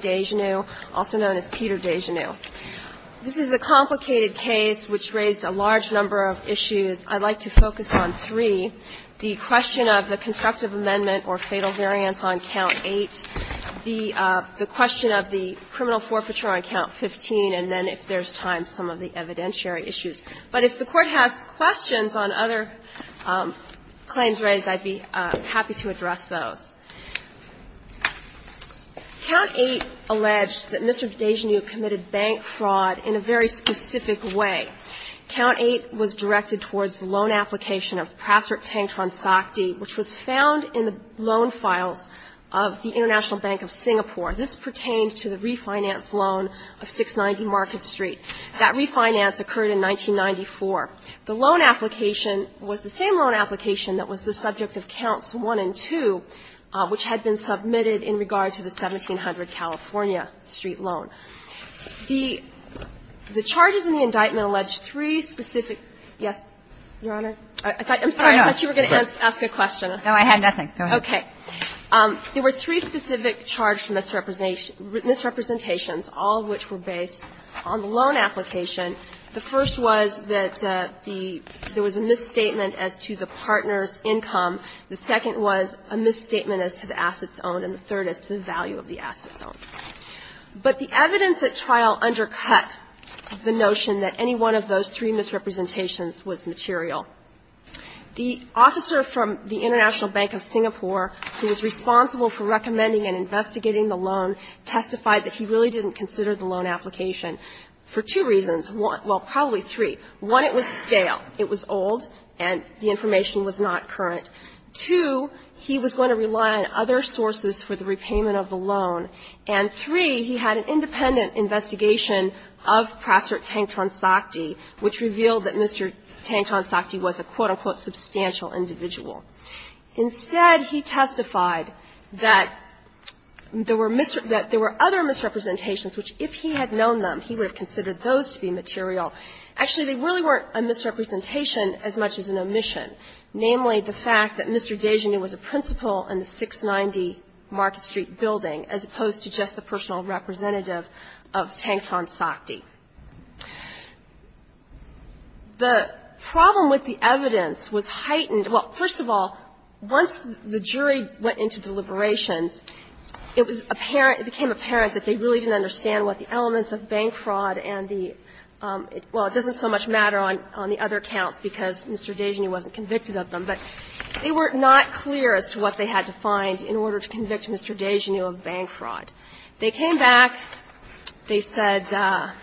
Dejanu, also known as Peter Dejanu. This is a complicated case which raised a large number of issues. I'd like to focus on three, the question of the constructive amendment or fatal variance on Count 8, the question of the criminal forfeiture on Count 15, and then, if there's time, some of the evidentiary issues. But if the claims are raised, I'd be happy to address those. Count 8 alleged that Mr. Dejanu committed bank fraud in a very specific way. Count 8 was directed towards the loan application of Prasert Tengkransakti, which was found in the loan files of the International Bank of Singapore. This pertained to the refinance loan of 690 Market Street. That refinance occurred in 1994. The loan application was the same loan application that was the subject of Counts 1 and 2, which had been submitted in regard to the 1700 California Street loan. The charges in the indictment alleged three specific yes, Your Honor? I'm sorry, I thought you were going to ask a question. No, I had nothing. Go ahead. Okay. There were three specific charged misrepresentations, all of which were based on the loan application. The first was that there was a misstatement as to the partner's income. The second was a misstatement as to the assets owned, and the third is the value of the assets owned. But the evidence at trial undercut the notion that any one of those three misrepresentations was material. The officer from the International Bank of Singapore, who was responsible for recommending and investigating the loan, testified that he really didn't consider the loan application for two reasons. Well, probably three. One, it was stale. It was old, and the information was not current. Two, he was going to rely on other sources for the repayment of the loan. And three, he had an independent investigation of Prasert Tengkransakti, which revealed that Mr. Tengkransakti was a, quote, unquote, substantial individual. Instead, he testified that there were other misrepresentations which, if he had known them, he would have considered those to be material. Actually, they really weren't a misrepresentation as much as an omission, namely the fact that Mr. Desjardins was a principal in the 690 Market Street building as opposed to just the personal representative of Tengkransakti. The problem with the evidence was heightened. Well, first of all, once the jury went into deliberations, it was apparent, it became apparent that they really didn't understand what the elements of bank fraud and the – well, it doesn't so much matter on the other counts because Mr. Desjardins wasn't convicted of them, but they were not clear as to what they had to find in order to convict Mr. Desjardins of bank fraud. They came back. They said –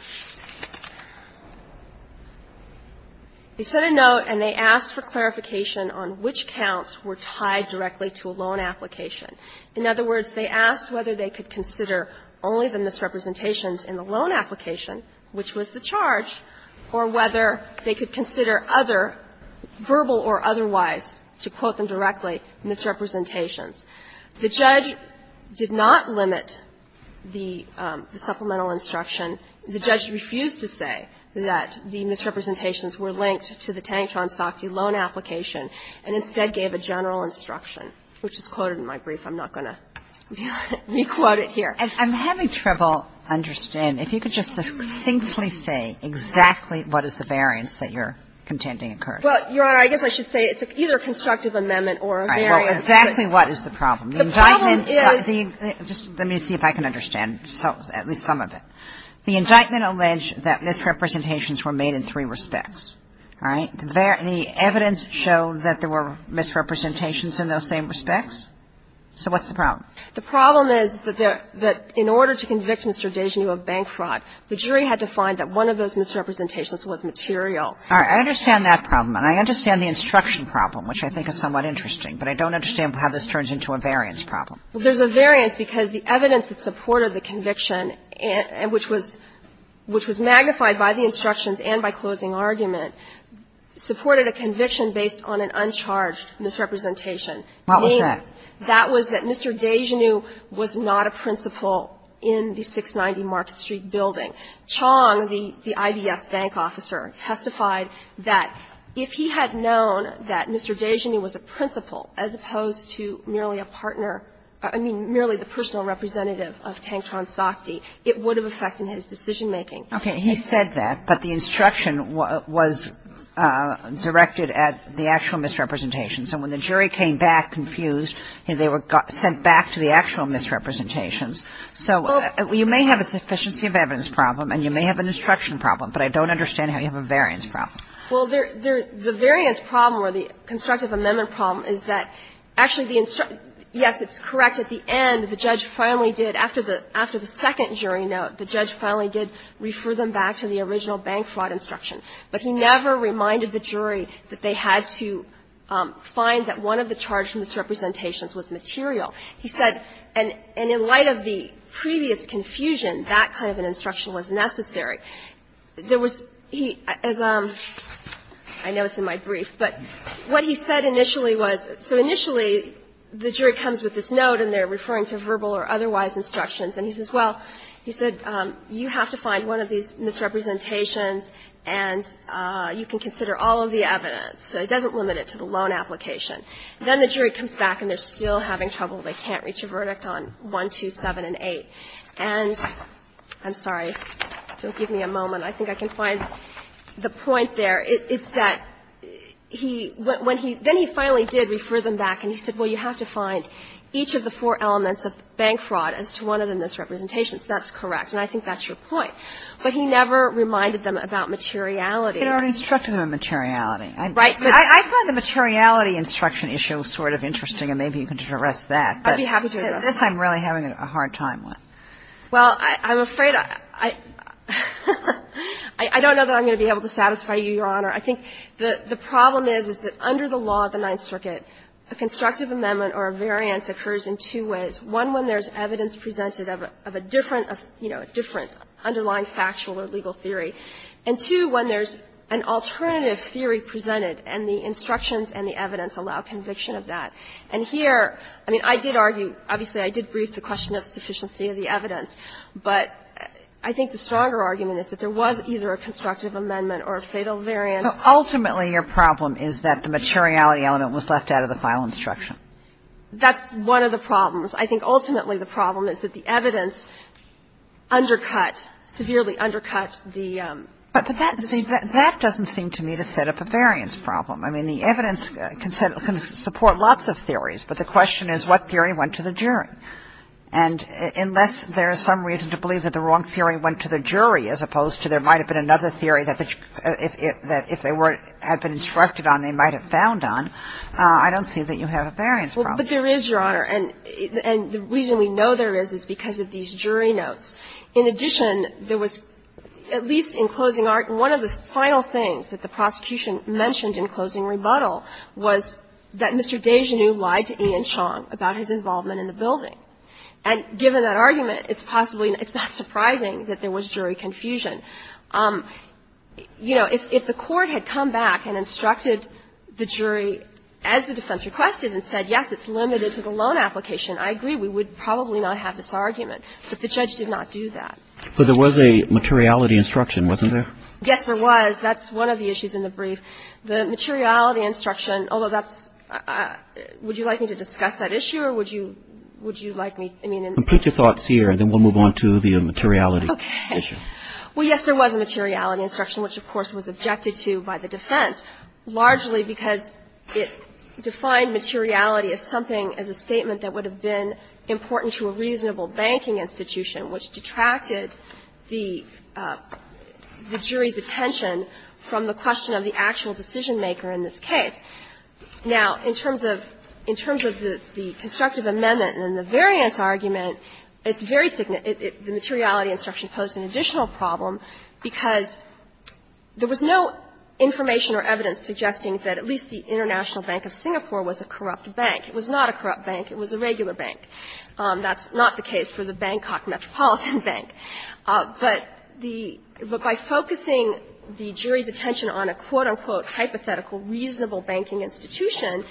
they sent a note and they asked for clarification on which counts were tied directly to a loan application. In other words, they asked whether they could consider only the misrepresentations in the loan application, which was the charge, or whether they could consider other, verbal or otherwise, to quote them directly, misrepresentations. The judge did not limit the supplemental instruction. The judge refused to say that the misrepresentations were linked to the Tengkransakti loan application and instead gave a general instruction, which is quoted in my brief. I'm not going to re-quote it here. And I'm having trouble understanding. If you could just succinctly say exactly what is the variance that you're contending occurred. Well, Your Honor, I guess I should say it's either a constructive amendment or a variance. All right. Well, exactly what is the problem? The problem is – Just let me see if I can understand at least some of it. The indictment alleged that misrepresentations were made in three respects. All right? The evidence showed that there were misrepresentations in those same respects. So what's the problem? The problem is that in order to convict Mr. Desjardins of bank fraud, the jury had to find that one of those misrepresentations was material. All right. I understand that problem. And I understand the instruction problem, which I think is somewhat interesting. But I don't understand how this turns into a variance problem. Well, there's a variance because the evidence that supported the conviction, which was magnified by the instructions and by closing argument, supported a conviction based on an uncharged misrepresentation. What was that? That was that Mr. Desjardins was not a principal in the 690 Market Street building. Chong, the IBS bank officer, testified that if he had known that Mr. Desjardins was a principal as opposed to merely a partner – I mean, merely the personal representative of Tanktron Sochti, it would have affected his decision-making. Okay. He said that, but the instruction was directed at the actual misrepresentations. And when the jury came back confused, they were sent back to the actual misrepresentations. So you may have a sufficiency of evidence problem and you may have an instruction problem, but I don't understand how you have a variance problem. Well, the variance problem or the constructive amendment problem is that actually the – yes, it's correct. At the end, the judge finally did, after the second jury note, the judge finally did refer them back to the original bank fraud instruction. But he never reminded the jury that they had to find that one of the charged misrepresentations was material. He said, and in light of the previous confusion, that kind of an instruction was necessary. There was – he – as a – I know it's in my brief, but what he said initially was – so initially, the jury comes with this note and they're referring to verbal or otherwise instructions, and he says, well, he said, you have to find one of these misrepresentations and you can consider all of the evidence. So he doesn't limit it to the loan application. Then the jury comes back and they're still having trouble. They can't reach a verdict on 1, 2, 7, and 8. And I'm sorry. If you'll give me a moment, I think I can find the point there. It's that he – when he – then he finally did refer them back and he said, well, you have to find each of the four elements of bank fraud as to one of the misrepresentations. That's correct. And I think that's your point. But he never reminded them about materiality. He never instructed them on materiality. Right. I find the materiality instruction issue sort of interesting, and maybe you could just address that. I'd be happy to address that. This I'm really having a hard time with. Well, I'm afraid I – I don't know that I'm going to be able to satisfy you, Your Honor. I think the problem is, is that under the law of the Ninth Circuit, a constructive amendment or a variance occurs in two ways, one when there's evidence presented of a different, you know, a different underlying factual or legal theory, and two when there's an alternative theory presented and the instructions and the evidence allow conviction of that. And here, I mean, I did argue – obviously, I did brief the question of sufficiency of the evidence, but I think the stronger argument is that there was either a constructive amendment or a fatal variance. So ultimately, your problem is that the materiality element was left out of the file instruction. That's one of the problems. I think ultimately, the problem is that the evidence undercut, severely undercut the – the structure. But that doesn't seem to me to set up a variance problem. I mean, the evidence can support lots of theories, but the question is what theory went to the jury. And unless there is some reason to believe that the wrong theory went to the jury as opposed to there might have been another theory that if they were – had been instructed on, they might have found on, I don't see that you have a variance problem. But there is, Your Honor. And the reason we know there is, is because of these jury notes. In addition, there was, at least in closing – one of the final things that the prosecution mentioned in closing rebuttal was that Mr. Desjardins lied to Ian Chong about his involvement in the building. And given that argument, it's possibly – it's not surprising that there was jury confusion. You know, if the Court had come back and instructed the jury, as the defense requested and said, yes, it's limited to the loan application, I agree, we would probably not have this argument. But the judge did not do that. But there was a materiality instruction, wasn't there? Yes, there was. That's one of the issues in the brief. The materiality instruction, although that's – would you like me to discuss that issue or would you – would you like me, I mean, in the brief? Complete your thoughts here and then we'll move on to the materiality issue. Okay. Well, yes, there was a materiality instruction, which, of course, was objected to by the defense, largely because it defined materiality as something, as a statement that would have been important to a reasonable banking institution, which detracted the jury's attention from the question of the actual decision-maker in this case. Now, in terms of – in terms of the constructive amendment and the variance argument, it's very – the materiality instruction posed an additional problem, because there was no information or evidence suggesting that at least the International Bank of Singapore was a corrupt bank. It was not a corrupt bank. It was a regular bank. That's not the case for the Bangkok Metropolitan Bank. But the – but by focusing the jury's attention on a quote, unquote, hypothetical reasonable banking institution,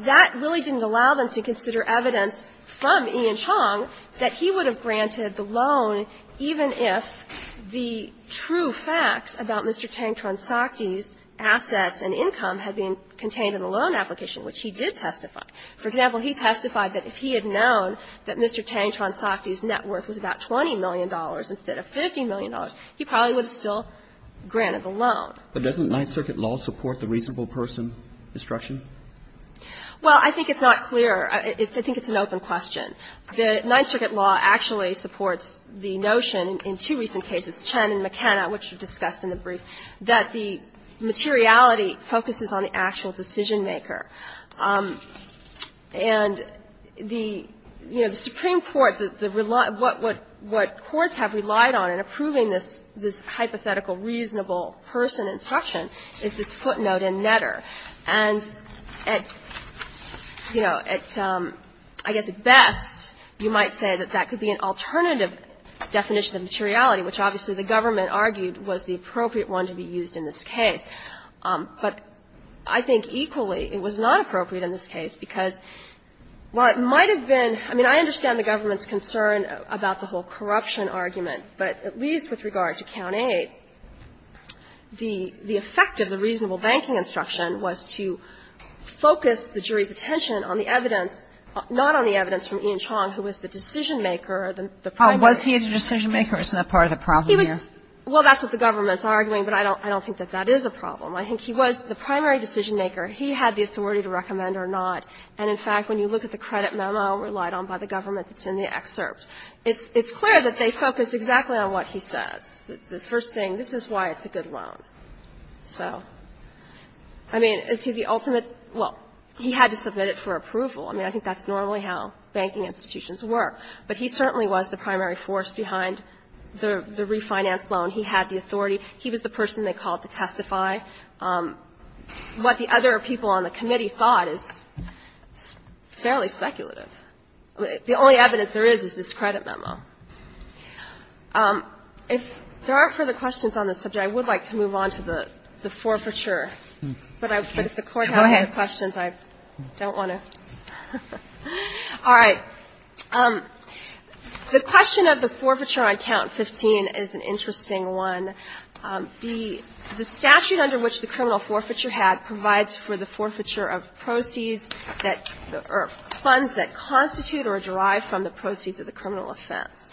that really didn't allow them to consider evidence from Ian Chong that he would have granted the loan even if the true factual facts about Mr. Teng Tronsakdi's assets and income had been contained in a loan application, which he did testify. For example, he testified that if he had known that Mr. Teng Tronsakdi's net worth was about $20 million instead of $50 million, he probably would have still granted the loan. But doesn't Ninth Circuit law support the reasonable person instruction? Well, I think it's not clear. I think it's an open question. The Ninth Circuit law actually supports the notion in two recent cases, Chen and McKenna, which were discussed in the brief, that the materiality focuses on the actual decision-maker. And the – you know, the Supreme Court, the – what courts have relied on in approving this hypothetical reasonable person instruction is this footnote in Netter. And at, you know, at I guess at best, you might say that that could be an alternative definition of materiality, which obviously the government argued was the appropriate one to be used in this case. But I think equally it was not appropriate in this case, because while it might have been – I mean, I understand the government's concern about the whole corruption argument, but at least with regard to Count 8, the effect of the reasonable banking instruction was to focus the jury's attention on the evidence, not on the evidence from Ian Chong, who was the decision-maker, the primary judge. And I think that's what the government is arguing, but I don't think that that is a problem. I think he was the primary decision-maker. He had the authority to recommend or not. And in fact, when you look at the credit memo relied on by the government that's in the excerpt, it's clear that they focus exactly on what he says. The first thing, this is why it's a good loan. So, I mean, is he the ultimate – well, he had to submit it for approval. I mean, I think that's normally how banking institutions work. But he certainly was the primary force behind the refinance loan. He had the authority. He was the person they called to testify. What the other people on the committee thought is fairly speculative. The only evidence there is, is this credit memo. If there are further questions on this subject, I would like to move on to the forfeiture. But if the Court has other questions, I don't want to. All right. The question of the forfeiture on Count 15 is an interesting one. The statute under which the criminal forfeiture had provides for the forfeiture of proceeds that – or funds that constitute or derive from the proceeds of the criminal offense.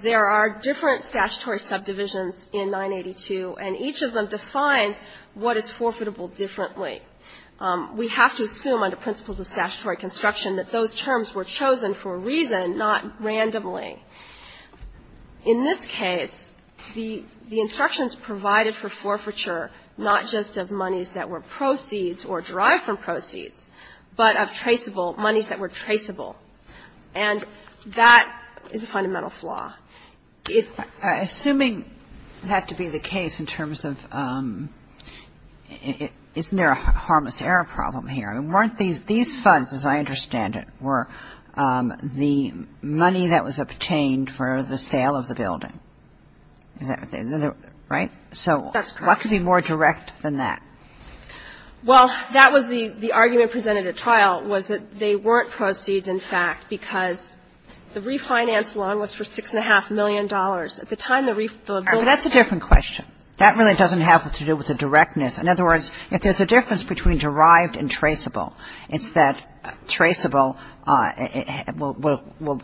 There are different statutory subdivisions in 982, and each of them defines what is forfeitable differently. We have to assume under principles of statutory construction that those terms were chosen for a reason, not randomly. In this case, the instructions provided for forfeiture not just of monies that were proceeds or derived from proceeds, but of traceable – monies that were traceable. And that is a fundamental flaw. If the Court had to make a decision on the forfeiture, it would have to make a decision And that's the harmless error problem here. I mean, weren't these – these funds, as I understand it, were the money that was obtained for the sale of the building. Is that what they – right? So what could be more direct than that? In other words, if there's a difference between derived and traceable, it's that traceable will – will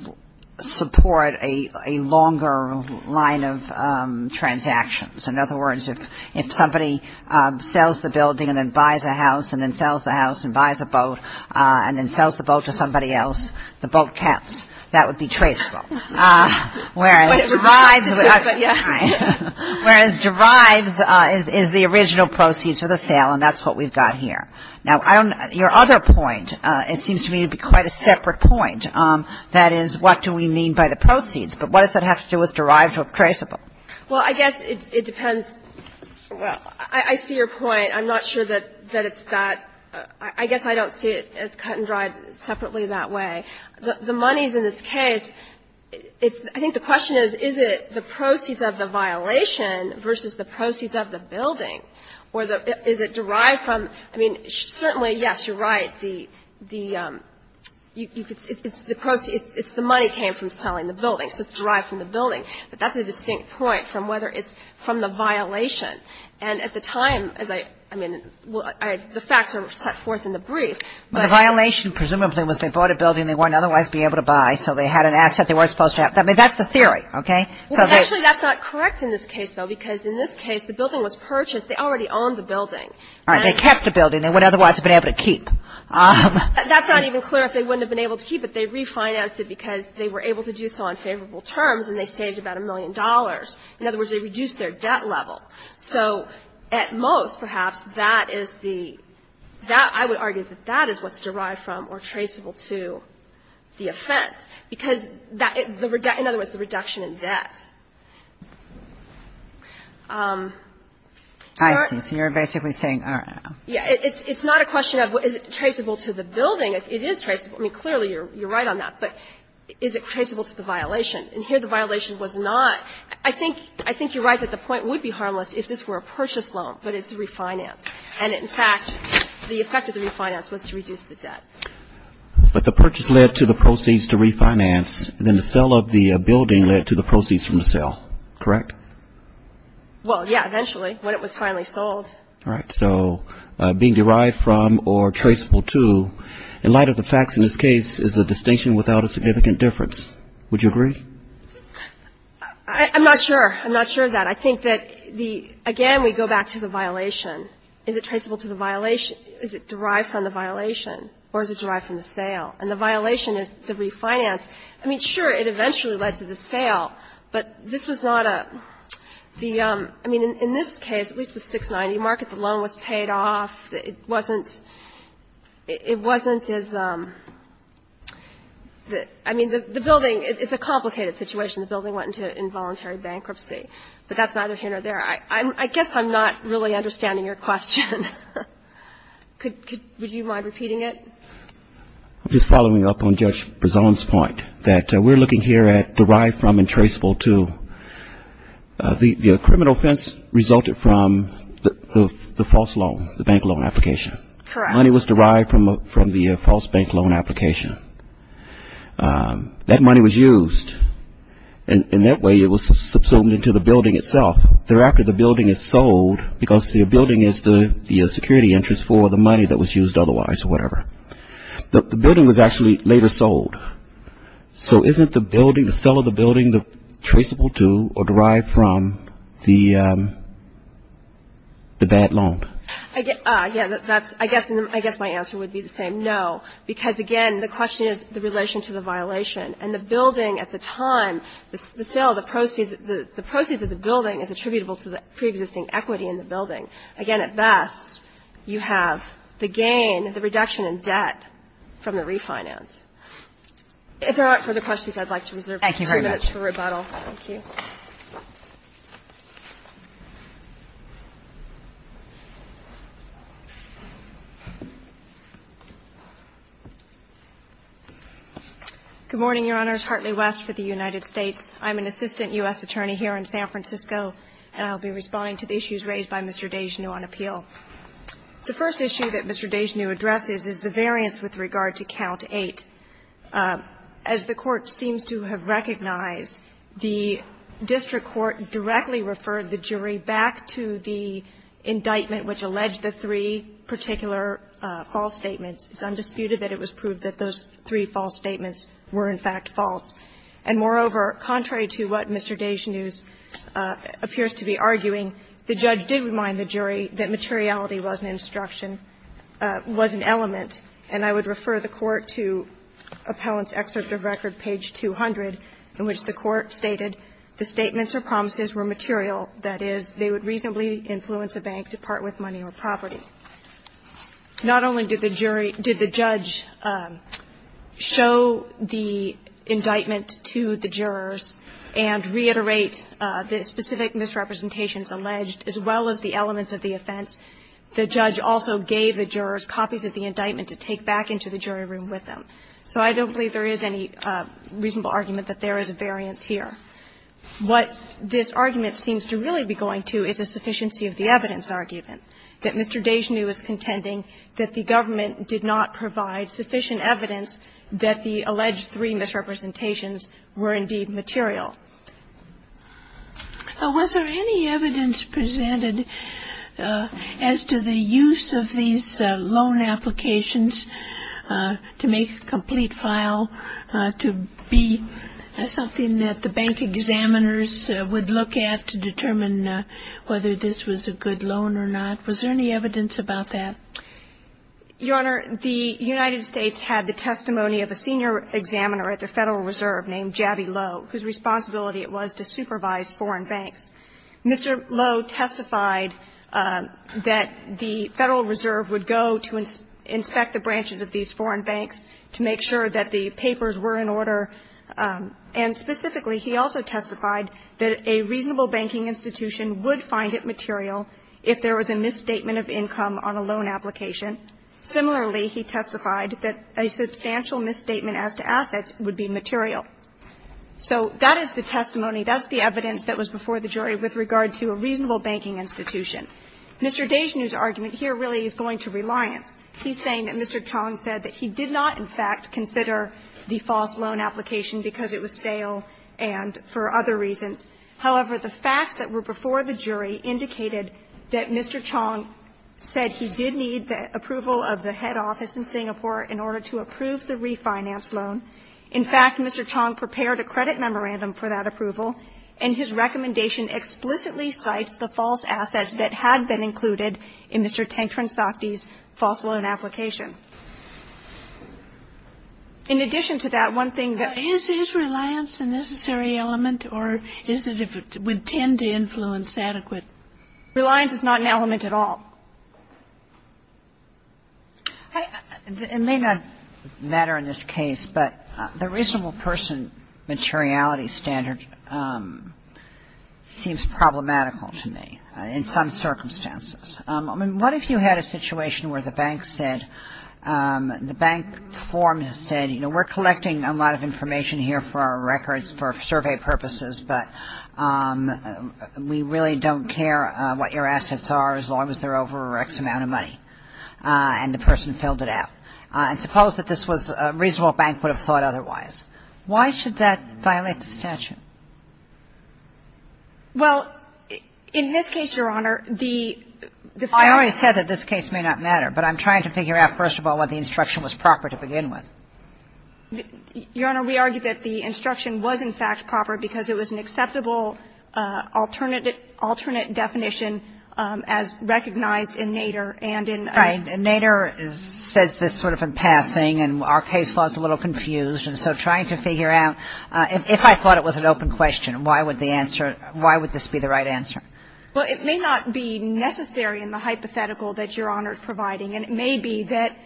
support a longer line of transactions. In other words, if somebody sells the building and then buys a house and then sells the house and buys a boat and then sells the boat to somebody else, that's a different question. Yes. The boat counts. That would be traceable. Whereas derives – But it would be a deficit. Yes. Whereas derives is the original proceeds for the sale, and that's what we've got here. Now, I don't know – your other point, it seems to me, would be quite a separate point. That is, what do we mean by the proceeds? But what does that have to do with derived or traceable? Well, I guess it depends. I see your point. I'm not sure that it's that – I guess I don't see it as cut and dried separately that way. The monies in this case, it's – I think the question is, is it the proceeds of the violation versus the proceeds of the building? Or is it derived from – I mean, certainly, yes, you're right. The – you could – it's the money came from selling the building, so it's derived from the building. But that's a distinct point from whether it's from the violation. And at the time, as I – I mean, the facts are set forth in the brief, but – The question, presumably, was they bought a building they wouldn't otherwise be able to buy, so they had an asset they weren't supposed to have. I mean, that's the theory, okay? Well, actually, that's not correct in this case, though, because in this case, the building was purchased. They already owned the building. All right. They kept the building. They wouldn't otherwise have been able to keep. That's not even clear, if they wouldn't have been able to keep it. They refinanced it because they were able to do so on favorable terms, and they saved about a million dollars. In other words, they reduced their debt level. So at most, perhaps, that is the – that, I would argue, that that is what's derived from or traceable to the offense, because that – in other words, the reduction in debt. You're basically saying, all right, I don't know. It's not a question of is it traceable to the building. It is traceable. I mean, clearly, you're right on that. But is it traceable to the violation? And here the violation was not – I think you're right that the point would be harmless if this were a purchase loan, but it's a refinance. And in fact, the effect of the refinance was to reduce the debt. But the purchase led to the proceeds to refinance, and then the sale of the building led to the proceeds from the sale, correct? Well, yeah, eventually, when it was finally sold. All right. So being derived from or traceable to, in light of the facts in this case, is a distinction without a significant difference. Would you agree? I'm not sure. I'm not sure of that. I think that the – again, we go back to the violation. Is it traceable to the violation? Is it derived from the violation, or is it derived from the sale? And the violation is the refinance. I mean, sure, it eventually led to the sale, but this was not a – the – I mean, in this case, at least with 690 Market, the loan was paid off. It wasn't – it wasn't as – I mean, the building – it's a complicated situation. The building went into involuntary bankruptcy. But that's neither here nor there. I guess I'm not really understanding your question. Could – would you mind repeating it? I'm just following up on Judge Berzon's point that we're looking here at derived from and traceable to. The criminal offense resulted from the false loan, the bank loan application. Correct. Money was derived from the false bank loan application. That money was used, and that way it was subsumed into the building itself. Thereafter, the building is sold because the building is the security interest for the money that was used otherwise, or whatever. The building was actually later sold. So isn't the building – the sale of the building traceable to or derived from the bad loan? I guess – yeah, that's – I guess my answer would be the same. No, because, again, the question is the relation to the violation. And the building at the time, the sale of the proceeds – the proceeds of the building is attributable to the preexisting equity in the building. Again, at best, you have the gain, the reduction in debt from the refinance. If there aren't further questions, I'd like to reserve a few minutes for rebuttal. Thank you. Good morning, Your Honors. Hartley West for the United States. I'm an assistant U.S. attorney here in San Francisco, and I'll be responding to the issues raised by Mr. DeGeneu on appeal. The first issue that Mr. DeGeneu addresses is the variance with regard to Count 8. As the Court seems to have recognized, the district court directly referred the jury back to the indictment which alleged the three particular false statements. It's undisputed that it was proved that those three false statements were, in fact, false. And moreover, contrary to what Mr. DeGeneu appears to be arguing, the judge did remind the jury that materiality was an instruction, was an element. And I would refer the Court to Appellant's Excerpt of Record, page 200, in which the Court stated the statements or promises were material, that is, they would reasonably influence a bank to part with money or property. Not only did the jury – did the judge show the indictment to the jurors and reiterate the specific misrepresentations alleged, as well as the elements of the offense, the judge also gave the jurors copies of the indictment to take back into the jury room with them. So I don't believe there is any reasonable argument that there is a variance here. What this argument seems to really be going to is a sufficiency of the evidence argument, that Mr. DeGeneu is contending that the government did not provide sufficient evidence that the alleged three misrepresentations were indeed material. Was there any evidence presented as to the use of these loan applications to make a complete file to be something that the bank examiners would look at to determine whether this was a good loan or not? Was there any evidence about that? Your Honor, the United States had the testimony of a senior examiner at the Federal Reserve named Jaby Lowe, whose responsibility it was to supervise foreign banks. Mr. Lowe testified that the Federal Reserve would go to inspect the branches of these foreign banks to make sure that the papers were in order, and specifically, he also testified that a reasonable banking institution would find it material if there was a misstatement of income on a loan application. Similarly, he testified that a substantial misstatement as to assets would be material. So that is the testimony, that's the evidence that was before the jury with regard to a reasonable banking institution. Mr. DeGeneu's argument here really is going to reliance. He's saying that Mr. Chong said that he did not, in fact, consider the false loan application because it was stale and for other reasons. However, the facts that were before the jury indicated that Mr. Chong said he did need the approval of the head office in Singapore in order to approve the refinance loan. In fact, Mr. Chong prepared a credit memorandum for that approval, and his recommendation explicitly cites the false assets that had been included in Mr. Tengkeren-Sakdi's false loan application. In addition to that, one thing that the Jury's argument here really is going to reliance on is the fact that Mr. Tengkeren-Sakdi did not, in fact, consider the false assets assets that had been included in Mr. Tengkeren-Sakdi's false loan application. It may not matter in this case, but the reasonable person materiality standard seems problematical to me in some circumstances. I mean, what if you had a situation where the bank said, the bank form said, you know, we're collecting a lot of information here for our records, for survey purposes, but we really don't care what your assets are as long as they're over X amount of money, and the person filled it out. And suppose that this was a reasonable bank would have thought otherwise. Why should that violate the statute? Well, in this case, Your Honor, the fact that the bank said that this case may not matter, but I'm trying to figure out, first of all, whether the instruction was proper to begin with. Your Honor, we argue that the instruction was, in fact, proper because it was an acceptable alternate definition as recognized in Nader and in other cases. Right. And Nader says this sort of in passing, and our case law is a little confused, and so trying to figure out, if I thought it was an open question, why would the answer, why would this be the right answer? Well, it may not be necessary in the hypothetical that Your Honor is providing, and it may be that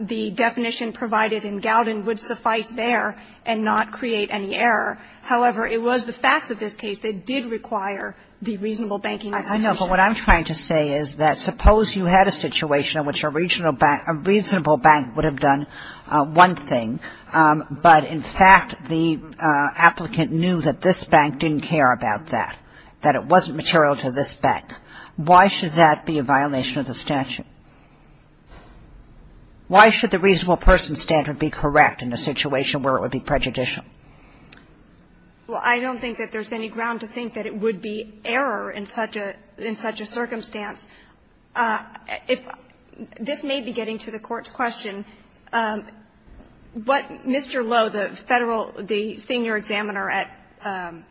the definition provided in Gowden would suffice there and not create any error. However, it was the facts of this case that did require the reasonable banking institution. I know, but what I'm trying to say is that suppose you had a situation in which a reasonable bank would have done one thing, but, in fact, the applicant knew that this bank didn't care about that, that it wasn't material to this bank. Why should that be a violation of the statute? Why should the reasonable person standard be correct in a situation where it would be prejudicial? Well, I don't think that there's any ground to think that it would be error in such a circumstance. If this may be getting to the Court's question, what Mr. Lowe, the Federal, the senior examiner at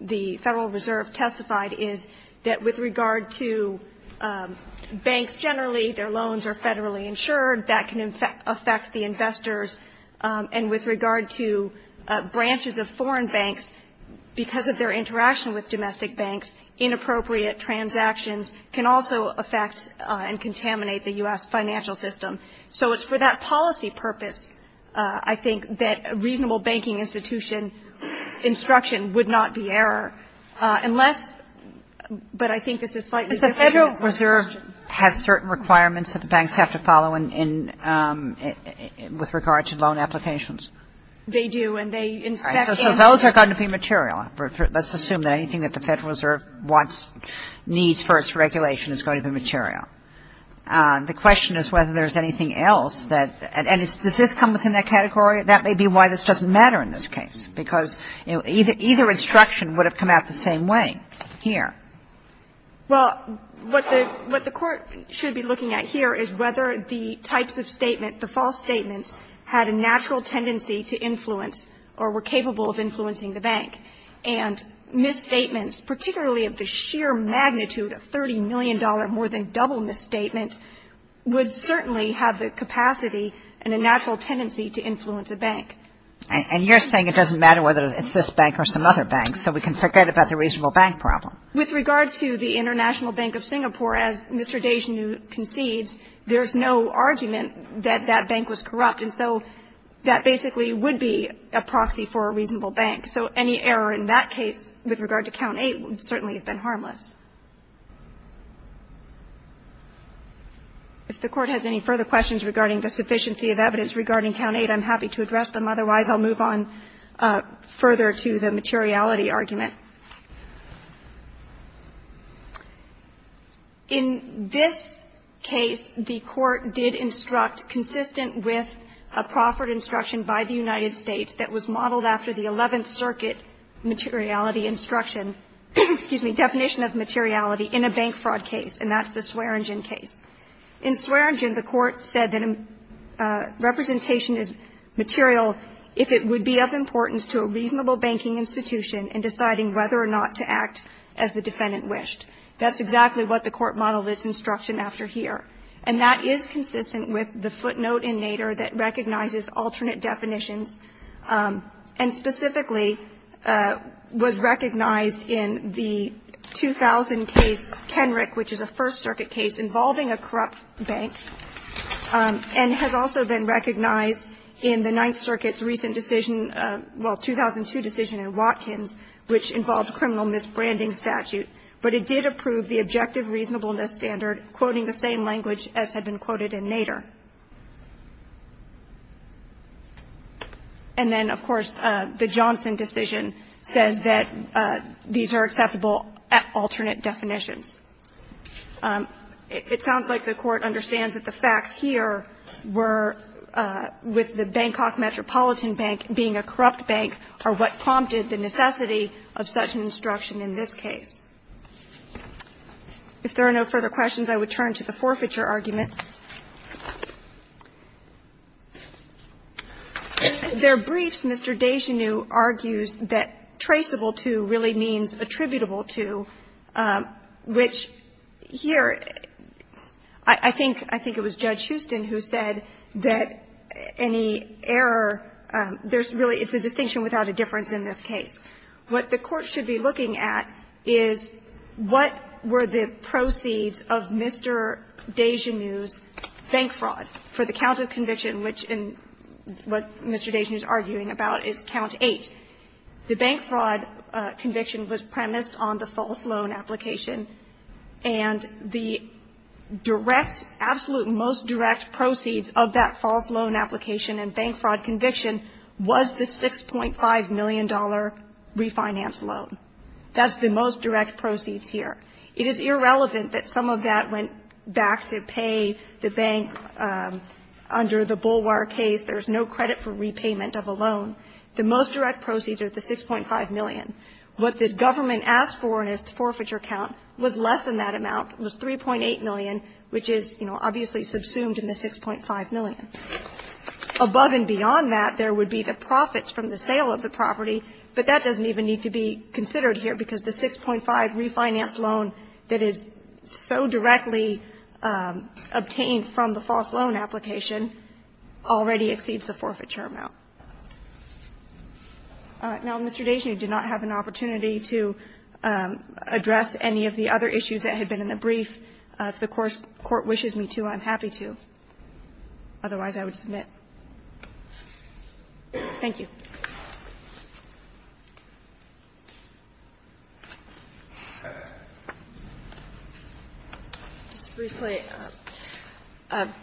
the Federal Reserve, testified is that with regard to banks generally, their loans are Federally insured. That can affect the investors. And with regard to branches of foreign banks, because of their interaction with domestic banks, inappropriate transactions can also affect and contaminate the U.S. financial system. So it's for that policy purpose, I think, that a reasonable banking institution instruction would not be error, unless, but I think this is slightly different. Kagan. The Federal Reserve has certain requirements that the banks have to follow in, in, with regard to loan applications. They do, and they inspect and they do. So those are going to be material. Let's assume that anything that the Federal Reserve wants, needs for its regulation is going to be material. The question is whether there's anything else that – and does this come within that category? That may be why this doesn't matter in this case, because either instruction would have come out the same way here. Well, what the Court should be looking at here is whether the types of statement, the false statements, had a natural tendency to influence or were capable of influencing the bank. And misstatements, particularly of the sheer magnitude of $30 million, more than double misstatement, would certainly have the capacity and a natural tendency to influence a bank. And you're saying it doesn't matter whether it's this bank or some other bank, so we can forget about the reasonable bank problem. With regard to the International Bank of Singapore, as Mr. Desjardins concedes, there's no argument that that bank was corrupt. And so that basically would be a proxy for a reasonable bank. So any error in that case with regard to Count 8 would certainly have been harmless. If the Court has any further questions regarding the sufficiency of evidence regarding Count 8, I'm happy to address them. Otherwise, I'll move on further to the materiality argument. In this case, the Court did instruct, consistent with a proffered instruction by the United States that was modeled after the Eleventh Circuit materiality instruction, excuse me, definition of materiality in a bank fraud case, and that's the Swearengin case. In Swearengin, the Court said that representation is material if it would be of importance to a reasonable banking institution in deciding whether or not to act as the defendant wished. That's exactly what the Court modeled its instruction after here. And that is consistent with the footnote in Nader that recognizes alternate definitions and specifically was recognized in the 2000 case, Kenrick, which is a First Circuit case involving a corrupt bank, and has also been recognized in the Ninth Circuit's recent decision, well, 2002 decision in Watkins, which involved criminal misbranding statute. But it did approve the objective reasonableness standard, quoting the same language as had been quoted in Nader. And then, of course, the Johnson decision says that these are acceptable at alternate definitions. It sounds like the Court understands that the facts here were, with the Bangkok Metropolitan Bank being a corrupt bank, are what prompted the necessity of such an instruction in this case. If there are no further questions, I would turn to the forfeiture argument. In their brief, Mr. Desjeneux argues that traceable to really means attributable to, which here, I think it was Judge Huston who said that any error, there's really it's a distinction without a difference in this case. What the Court should be looking at is what were the proceeds of Mr. Desjeneux's bank fraud for the count of conviction, which in what Mr. Desjeneux is arguing about is count 8. The bank fraud conviction was premised on the false loan application, and the direct absolute most direct proceeds of that false loan application and bank fraud conviction was the $6.5 million refinance loan. That's the most direct proceeds here. It is irrelevant that some of that went back to pay the bank under the Bulwar case. There's no credit for repayment of a loan. The most direct proceeds are the 6.5 million. What the government asked for in its forfeiture count was less than that amount, was 3.8 million, which is, you know, obviously subsumed in the 6.5 million. Above and beyond that, there would be the profits from the sale of the property, but that doesn't even need to be considered here because the 6.5 refinance loan that is so directly obtained from the false loan application already exceeds the forfeiture amount. Now, Mr. Desjeneux did not have an opportunity to address any of the other issues that had been in the brief. If the court wishes me to, I'm happy to. Otherwise, I would submit. Thank you. Just briefly,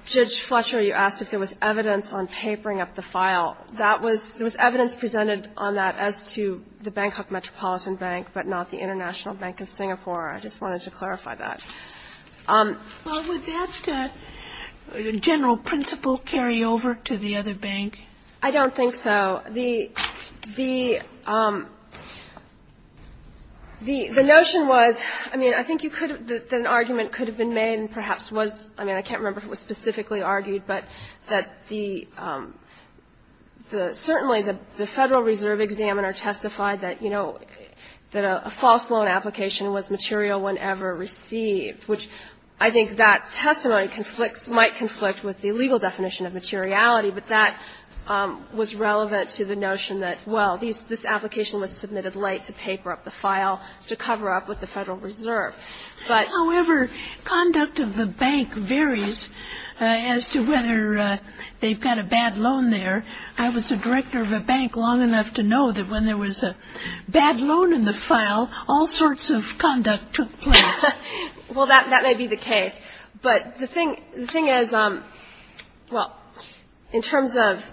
Judge Fletcher, you asked if there was evidence on papering up the file. That was there was evidence presented on that as to the Bangkok Metropolitan Bank, but not the International Bank of Singapore. I just wanted to clarify that. Well, would that general principle carry over to the other bank? I don't think so. The notion was, I mean, I think you could have an argument could have been made and perhaps was, I mean, I can't remember if it was specifically argued, but that the certainly the Federal Reserve examiner testified that, you know, that a false loan application was material whenever received, which I think that testimony conflicts might conflict with the legal definition of materiality. But that was relevant to the notion that, well, this application was submitted late to paper up the file to cover up with the Federal Reserve. However, conduct of the bank varies as to whether they've got a bad loan there. I was a director of a bank long enough to know that when there was a bad loan in the bank, all sorts of conduct took place. Well, that may be the case. But the thing is, well, in terms of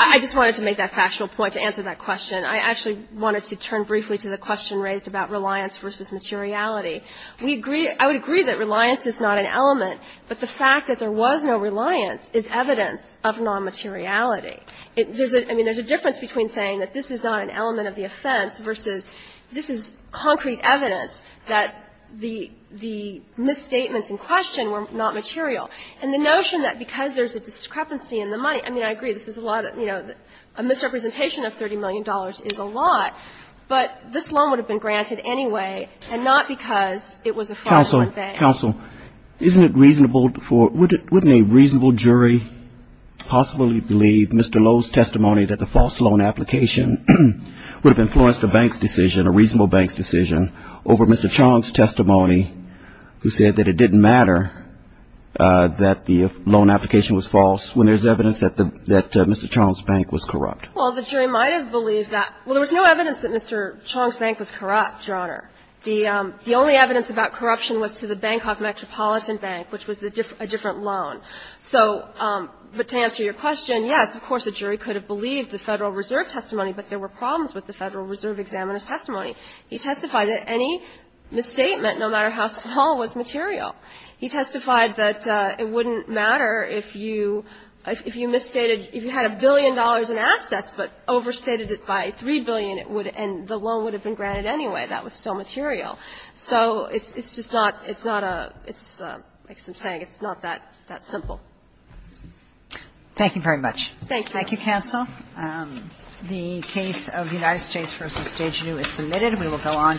I just wanted to make that factual point to answer that question. I actually wanted to turn briefly to the question raised about reliance versus materiality. We agree I would agree that reliance is not an element, but the fact that there was no reliance is evidence of non-materiality. There's a I mean, there's a difference between saying that this is not an element of the offense versus this is concrete evidence that the the misstatements in question were not material. And the notion that because there's a discrepancy in the money, I mean, I agree this is a lot of, you know, a misrepresentation of $30 million is a lot, but this loan would have been granted anyway, and not because it was a fraudulent bank. Counsel, counsel, isn't it reasonable for wouldn't a reasonable jury possibly believe Mr. Lowe's testimony that the false loan application would have influenced the bank's decision, a reasonable bank's decision, over Mr. Chong's testimony who said that it didn't matter that the loan application was false when there's evidence that Mr. Chong's bank was corrupt? Well, the jury might have believed that. Well, there was no evidence that Mr. Chong's bank was corrupt, Your Honor. The only evidence about corruption was to the Bangkok Metropolitan Bank, which was a different loan. So, but to answer your question, yes, of course, a jury could have believed the Federal Reserve testimony, but there were problems with the Federal Reserve examiner's testimony. He testified that any misstatement, no matter how small, was material. He testified that it wouldn't matter if you misstated, if you had a billion dollars in assets but overstated it by $3 billion, it would, and the loan would have been granted anyway. That was still material. So it's just not, it's not a, it's, like I'm saying, it's not that simple. Thank you very much. Thank you. Thank you, counsel. The case of United States v. Dejeuner is submitted. We will go on to the next case.